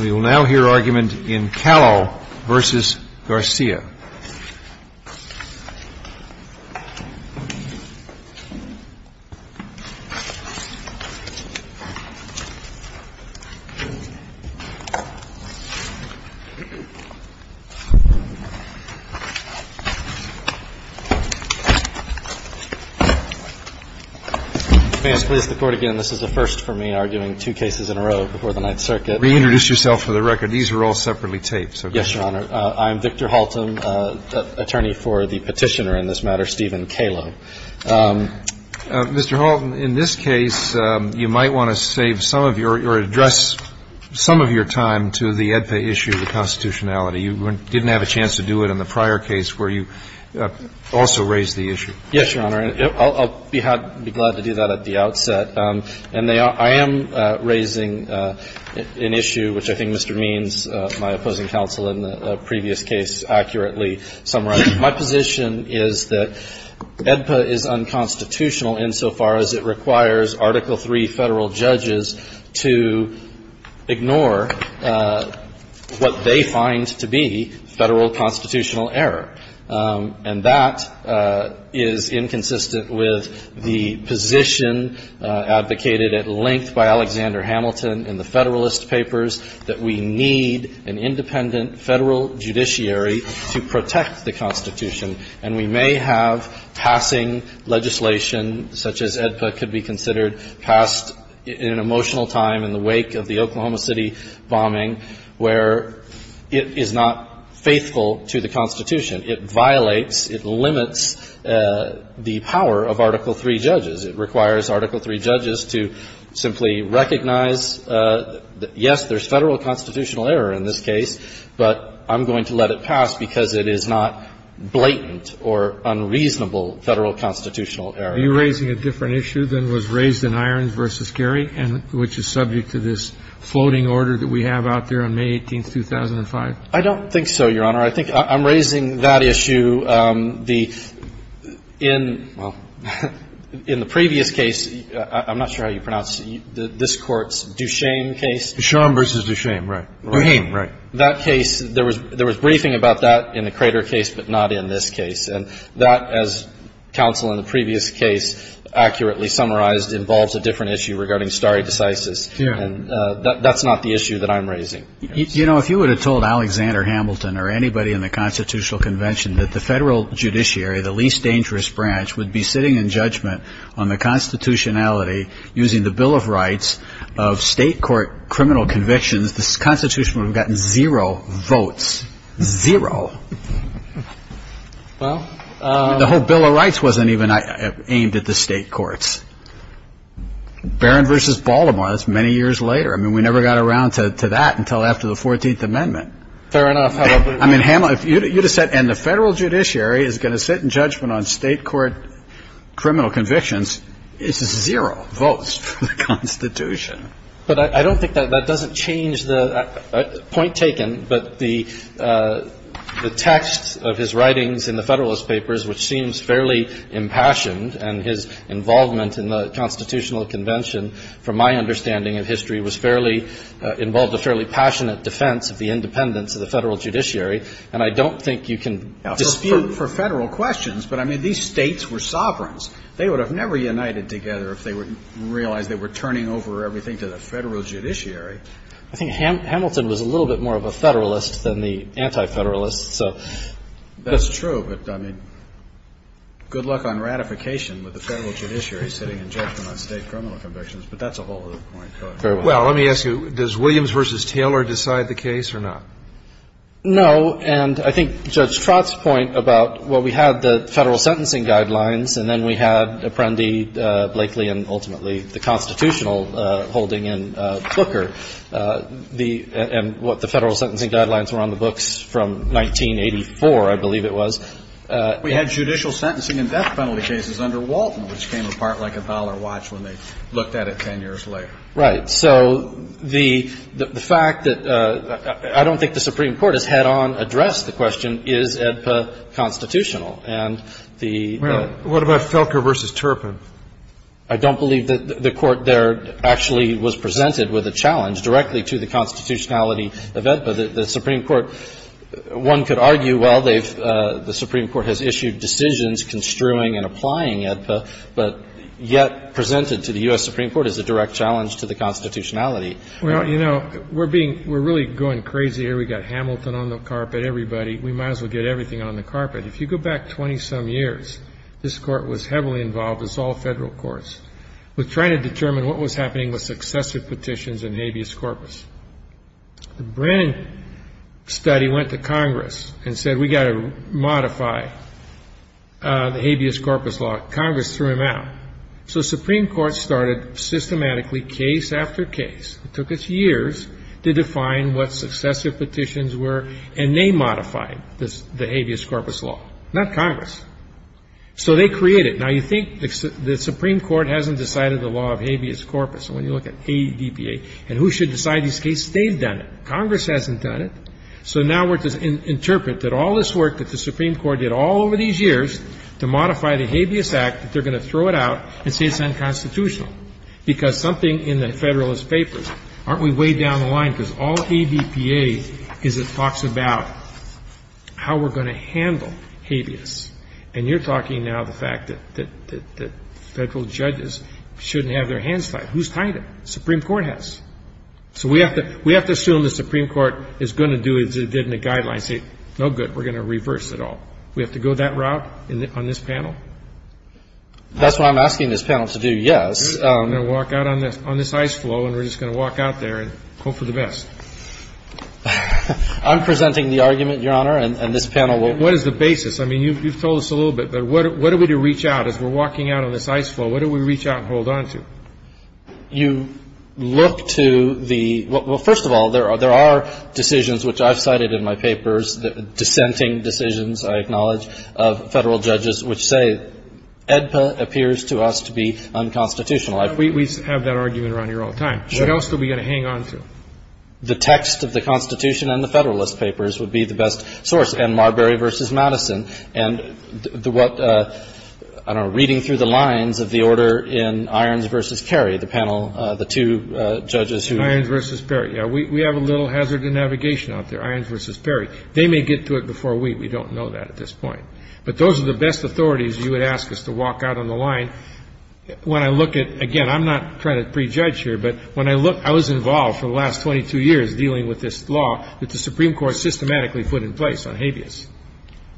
We will now hear argument in Kallo v. Garcia. May I please the Court again, this is the first for me arguing two cases in a row before the Ninth Circuit. Reintroduce yourself for the record. These are all separately taped. Yes, Your Honor. I'm Victor Halton, attorney for the petitioner in this matter, Stephen Kallo. Mr. Halton, in this case, you might want to save some of your or address some of your time to the Edpa issue, the constitutionality. You didn't have a chance to do it in the prior case where you also raised the issue. Yes, Your Honor. I'll be glad to do that at the outset. And I am raising an issue which I think Mr. Means, my opposing counsel in the previous case, accurately summarized. My position is that Edpa is unconstitutional insofar as it requires Article III federal judges to ignore what they find to be federal constitutional error. And that is inconsistent with the position advocated at length by Alexander Hamilton in the Federalist Papers that we need an independent federal judiciary to protect the Constitution. And we may have passing legislation such as Edpa could be considered passed in an emotional time in the wake of the Oklahoma City bombing where it is not faithful to the Constitution. It violates, it limits the power of Article III judges. It requires Article III judges to simply recognize, yes, there's federal constitutional error in this case, but I'm going to let it pass because it is not blatant or unreasonable federal constitutional error. Are you raising a different issue than was raised in Irons v. Carey, which is subject to this floating order that we have out there on May 18, 2005? I don't think so, Your Honor. I think I'm raising that issue. In the previous case, I'm not sure how you pronounce it, this Court's Duchesne case. Duchesne v. Duchesne, right. Duchesne, right. That case, there was briefing about that in the Crater case, but not in this case. And that, as counsel in the previous case accurately summarized, involves a different issue regarding stare decisis. And that's not the issue that I'm raising. You know, if you would have told Alexander Hamilton or anybody in the Constitutional Convention that the federal judiciary, the least dangerous branch, would be sitting in judgment on the constitutionality using the Bill of Rights of state court criminal convictions, the Constitution would have gotten zero votes. Zero. The whole Bill of Rights wasn't even aimed at the state courts. Barron v. Baltimore, that's many years later. I mean, we never got around to that until after the 14th Amendment. Fair enough. I mean, if you would have said, and the federal judiciary is going to sit in judgment on state court criminal convictions, it's zero votes for the Constitution. But I don't think that that doesn't change the point taken, but the text of his writings in the Federalist Papers, which seems fairly impassioned, and his involvement in the Constitutional Convention, from my understanding of history, was fairly involved a fairly passionate defense of the independence of the federal judiciary. And I don't think you can dispute for federal questions, but, I mean, these states were sovereigns. They would have never united together if they realized they were turning over everything to the federal judiciary. I think Hamilton was a little bit more of a Federalist than the Anti-Federalist, so. That's true, but, I mean, good luck on ratification with the federal judiciary sitting in judgment on state criminal convictions. But that's a whole other point. Fair enough. Well, let me ask you, does Williams v. Taylor decide the case or not? No. And I think Judge Trott's point about, well, we had the federal sentencing guidelines and then we had Apprendi, Blakely, and ultimately the constitutional holding in Booker. The — and what the federal sentencing guidelines were on the books from 1984, I believe it was. We had judicial sentencing and death penalty cases under Walton, which came apart like a dollar watch when they looked at it 10 years later. Right. So the fact that — I don't think the Supreme Court has head-on addressed the question, is AEDPA constitutional? And the — Well, what about Felker v. Turpin? I don't believe that the Court there actually was presented with a challenge directly to the constitutionality of AEDPA. The Supreme Court — one could argue, well, they've — the Supreme Court has issued decisions construing and applying AEDPA, but yet presented to the U.S. Supreme Court as a direct challenge to the constitutionality. Well, you know, we're being — we're really going crazy here. We've got Hamilton on the carpet, everybody. We might as well get everything on the carpet. If you go back 20-some years, this Court was heavily involved, as all federal courts, with trying to determine what was happening with successive petitions and habeas corpus. The Brennan study went to Congress and said, we've got to modify the habeas corpus law. Congress threw him out. So the Supreme Court started systematically, case after case — it took us years to define what successive petitions were, and they modified the habeas corpus law. Not Congress. So they created — now, you think the Supreme Court hasn't decided the law of habeas corpus. And when you look at AEDPA and who should decide these cases, they've done it. Congress hasn't done it. So now we're to interpret that all this work that the Supreme Court did all over these years to modify the Habeas Act, that they're going to throw it out and say it's unconstitutional. Because something in the Federalist Papers, aren't we way down the line? Because all AEDPA is, it talks about how we're going to handle habeas. And you're talking now the fact that federal judges shouldn't have their hands tied. Who's tied it? The Supreme Court has. So we have to assume the Supreme Court is going to do as it did in the Guidelines and say, no good, we're going to reverse it all. We have to go that route on this panel? That's what I'm asking this panel to do, yes. We're going to walk out on this ice floe, and we're just going to walk out there and hope for the best. I'm presenting the argument, Your Honor, and this panel will. What is the basis? I mean, you've told us a little bit. But what are we to reach out? As we're walking out on this ice floe, what do we reach out and hold on to? You look to the – well, first of all, there are decisions, which I've cited in my papers, dissenting decisions, I acknowledge, of federal judges, which say AEDPA appears to us to be unconstitutional. We have that argument around here all the time. Sure. What else are we going to hang on to? The text of the Constitution and the Federalist Papers would be the best source, and Marbury v. Madison. And what – I don't know, reading through the lines of the order in Irons v. Perry, the panel, the two judges who – Irons v. Perry. Yeah, we have a little hazard to navigation out there, Irons v. Perry. They may get to it before we. We don't know that at this point. But those are the best authorities you would ask us to walk out on the line. When I look at – again, I'm not trying to prejudge here, but when I look – I was involved for the last 22 years dealing with this law that the Supreme Court systematically put in place on habeas.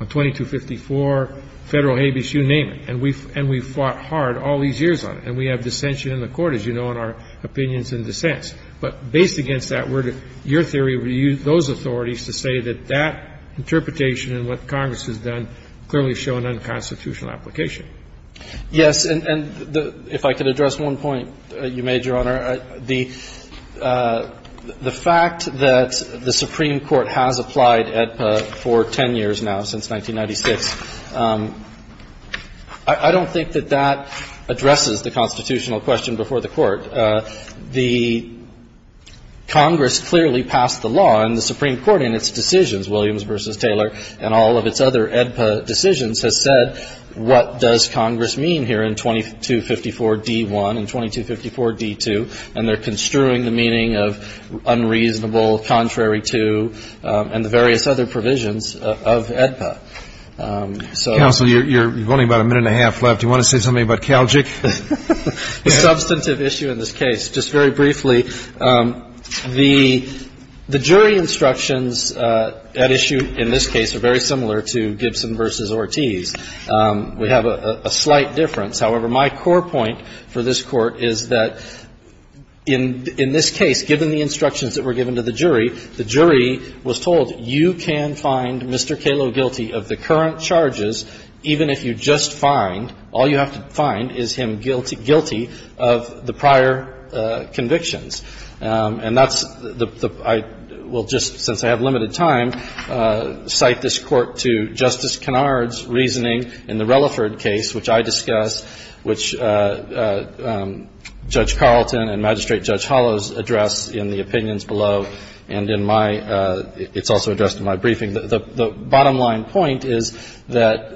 On 2254, federal habeas, you name it. And we've fought hard all these years on it. And we have dissension in the court, as you know, in our opinions and dissents. But based against that, your theory would use those authorities to say that that interpretation and what Congress has done clearly show an unconstitutional application. Yes. And if I could address one point you made, Your Honor. The fact that the Supreme Court has applied AEDPA for 10 years now, since 1996, the Congress clearly passed the law and the Supreme Court in its decisions, Williams v. Taylor, and all of its other AEDPA decisions, has said what does Congress mean here in 2254d-1 and 2254d-2. And they're construing the meaning of unreasonable, contrary to, and the various other provisions of AEDPA. Counsel, you've only got about a minute and a half left. Do you want to say something about Calgic? Substantive issue in this case. Just very briefly, the jury instructions at issue in this case are very similar to Gibson v. Ortiz. We have a slight difference. However, my core point for this Court is that in this case, given the instructions that were given to the jury, the jury was told you can find Mr. Calogh guilty of the current charges, even if you just find, all you have to find is him guilty of the prior convictions. And that's the, I will just, since I have limited time, cite this Court to Justice Kennard's reasoning in the Relaford case, which I discussed, which Judge Carlton and Magistrate Judge Hollows address in the opinions below, and in my, it's also addressed in my briefing. The bottom line point is that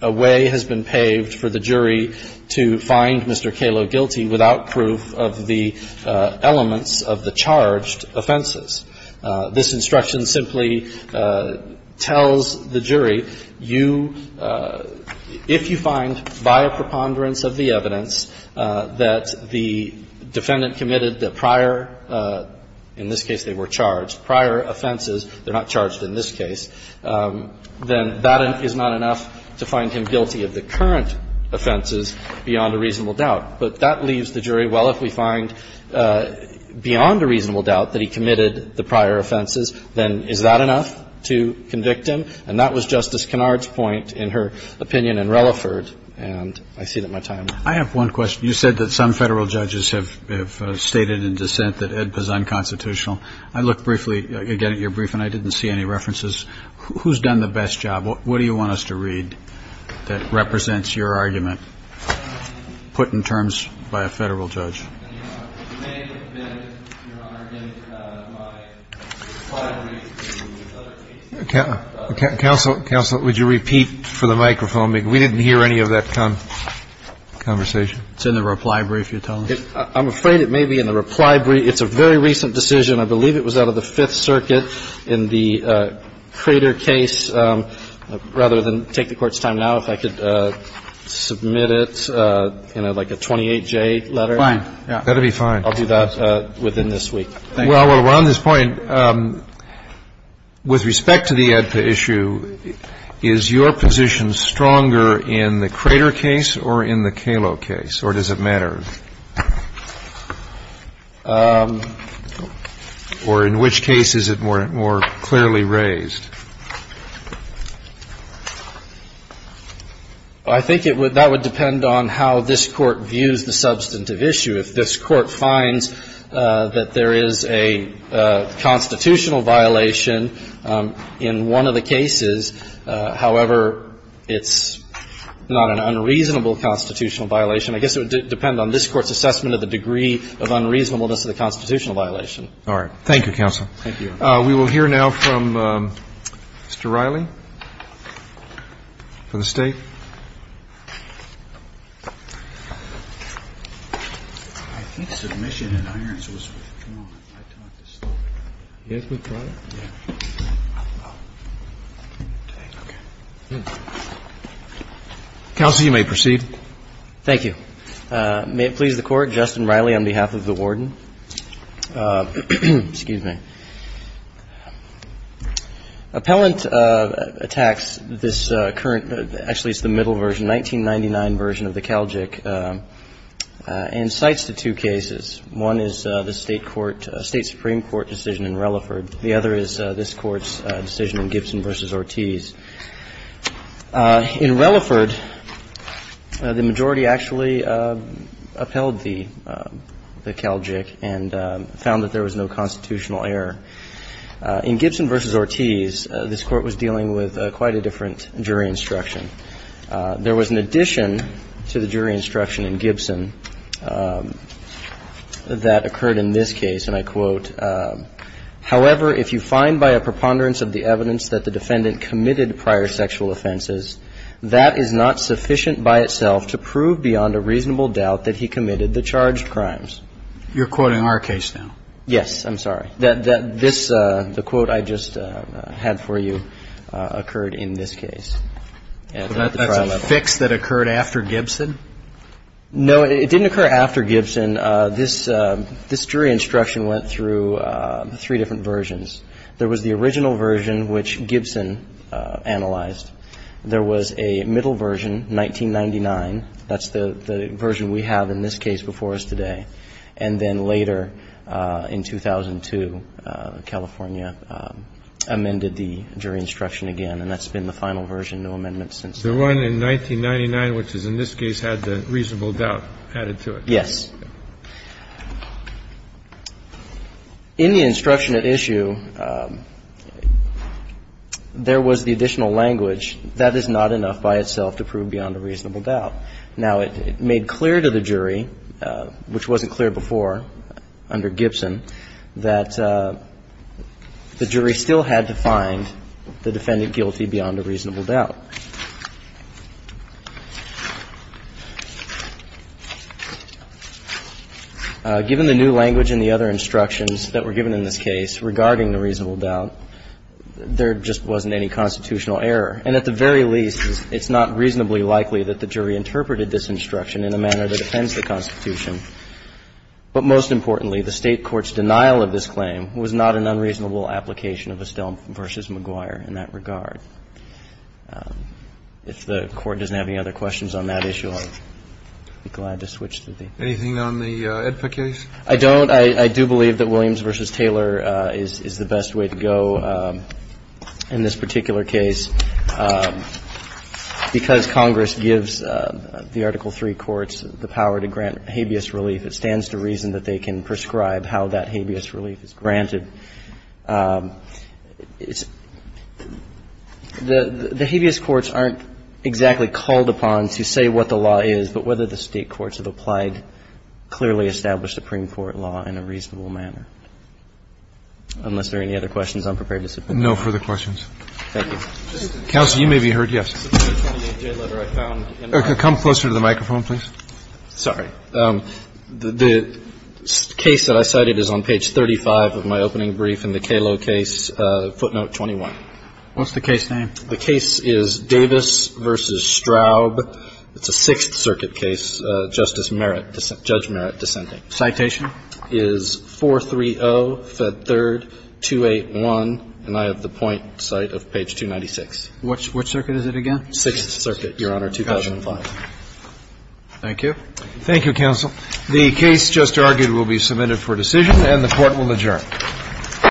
a way has been paved for the jury to find Mr. Calogh guilty without proof of the elements of the charged offenses. This instruction simply tells the jury you, if you find via preponderance of the evidence that the defendant committed the prior, in this case they were charged, prior offenses, they're not charged in this case, then that is not enough to find him guilty of the current offenses beyond a reasonable doubt. But that leaves the jury, well, if we find beyond a reasonable doubt that he committed the prior offenses, then is that enough to convict him? And that was Justice Kennard's point in her opinion in Relaford. And I see that my time is up. I have one question. You said that some Federal judges have stated in dissent that AEDPA is unconstitutional. I looked briefly, again, at your briefing. I didn't see any references. Who's done the best job? What do you want us to read that represents your argument put in terms by a Federal judge? You may have been, Your Honor, in my reply brief to other cases. Counsel, would you repeat for the microphone? We didn't hear any of that conversation. It's in the reply brief you're telling us? I'm afraid it may be in the reply brief. It's a very recent decision. I believe it was out of the Fifth Circuit in the Crater case. Rather than take the Court's time now, if I could submit it in, like, a 28-J letter. Fine. That would be fine. I'll do that within this week. Well, around this point, with respect to the AEDPA issue, is your position stronger in the Crater case or in the Kalo case, or does it matter? Or in which case is it more clearly raised? I think that would depend on how this Court views the substantive issue. If this Court finds that there is a constitutional violation in one of the cases, however, it's not an unreasonable constitutional violation, I guess it would depend on this Court's assessment of the degree of unreasonableness of the constitutional violation. All right. Thank you, counsel. Thank you. We will hear now from Mr. Riley for the State. I think submission in irons was withdrawn. I thought it was still there. It was withdrawn? Counsel, you may proceed. Thank you. May it please the Court, Justin Riley on behalf of the Warden. Excuse me. Appellant attacks this current – actually, it's the middle version, 1999 version of the Calgic, and cites the two cases. One is the State Supreme Court decision in Relaford. The other is this Court's decision in Gibson v. Ortiz. In Relaford, the majority actually upheld the Calgic and found that there was no constitutional error. In Gibson v. Ortiz, this Court was dealing with quite a different jury instruction. There was an addition to the jury instruction in Gibson that occurred in this case, and I quote, You're quoting our case now. Yes. I'm sorry. This – the quote I just had for you occurred in this case. So that's a fix that occurred after Gibson? No, it didn't occur after Gibson. I'll just go through three different versions. There was the original version, which Gibson analyzed. There was a middle version, 1999. That's the version we have in this case before us today. And then later, in 2002, California amended the jury instruction again, and that's been the final version, no amendments since then. The one in 1999, which is in this case, had the reasonable doubt added to it. Yes. In the instruction at issue, there was the additional language, that is not enough by itself to prove beyond a reasonable doubt. Now, it made clear to the jury, which wasn't clear before under Gibson, that the jury still had to find the defendant guilty beyond a reasonable doubt. Given the new language and the other instructions that were given in this case regarding the reasonable doubt, there just wasn't any constitutional error. And at the very least, it's not reasonably likely that the jury interpreted this instruction in a manner that offends the Constitution. But most importantly, the State court's denial of this claim was not an unreasonable application of Estelle v. McGuire in that regard. If the Court doesn't have any other questions on that issue, I'll be glad to switch to the other. Anything on the AEDPA case? I don't. I do believe that Williams v. Taylor is the best way to go in this particular case, because Congress gives the Article III courts the power to grant habeas relief. It stands to reason that they can prescribe how that habeas relief is granted. The habeas courts aren't exactly called upon to say what the law is, but whether the State courts have applied clearly established Supreme Court law in a reasonable manner. Unless there are any other questions, I'm prepared to submit. No further questions. Thank you. Counsel, you may be heard. Yes. Come closer to the microphone, please. Sorry. The case that I cited is on page 35 of my opening brief in the Calo case, footnote 21. What's the case name? The case is Davis v. Straub. It's a Sixth Circuit case. Justice Merritt, Judge Merritt dissenting. Citation? Is 430, Fed 3rd, 281. And I have the point cite of page 296. Which circuit is it again? Sixth Circuit, Your Honor, 2005. Thank you. Thank you, Counsel. The case just argued will be submitted for decision, and the Court will adjourn.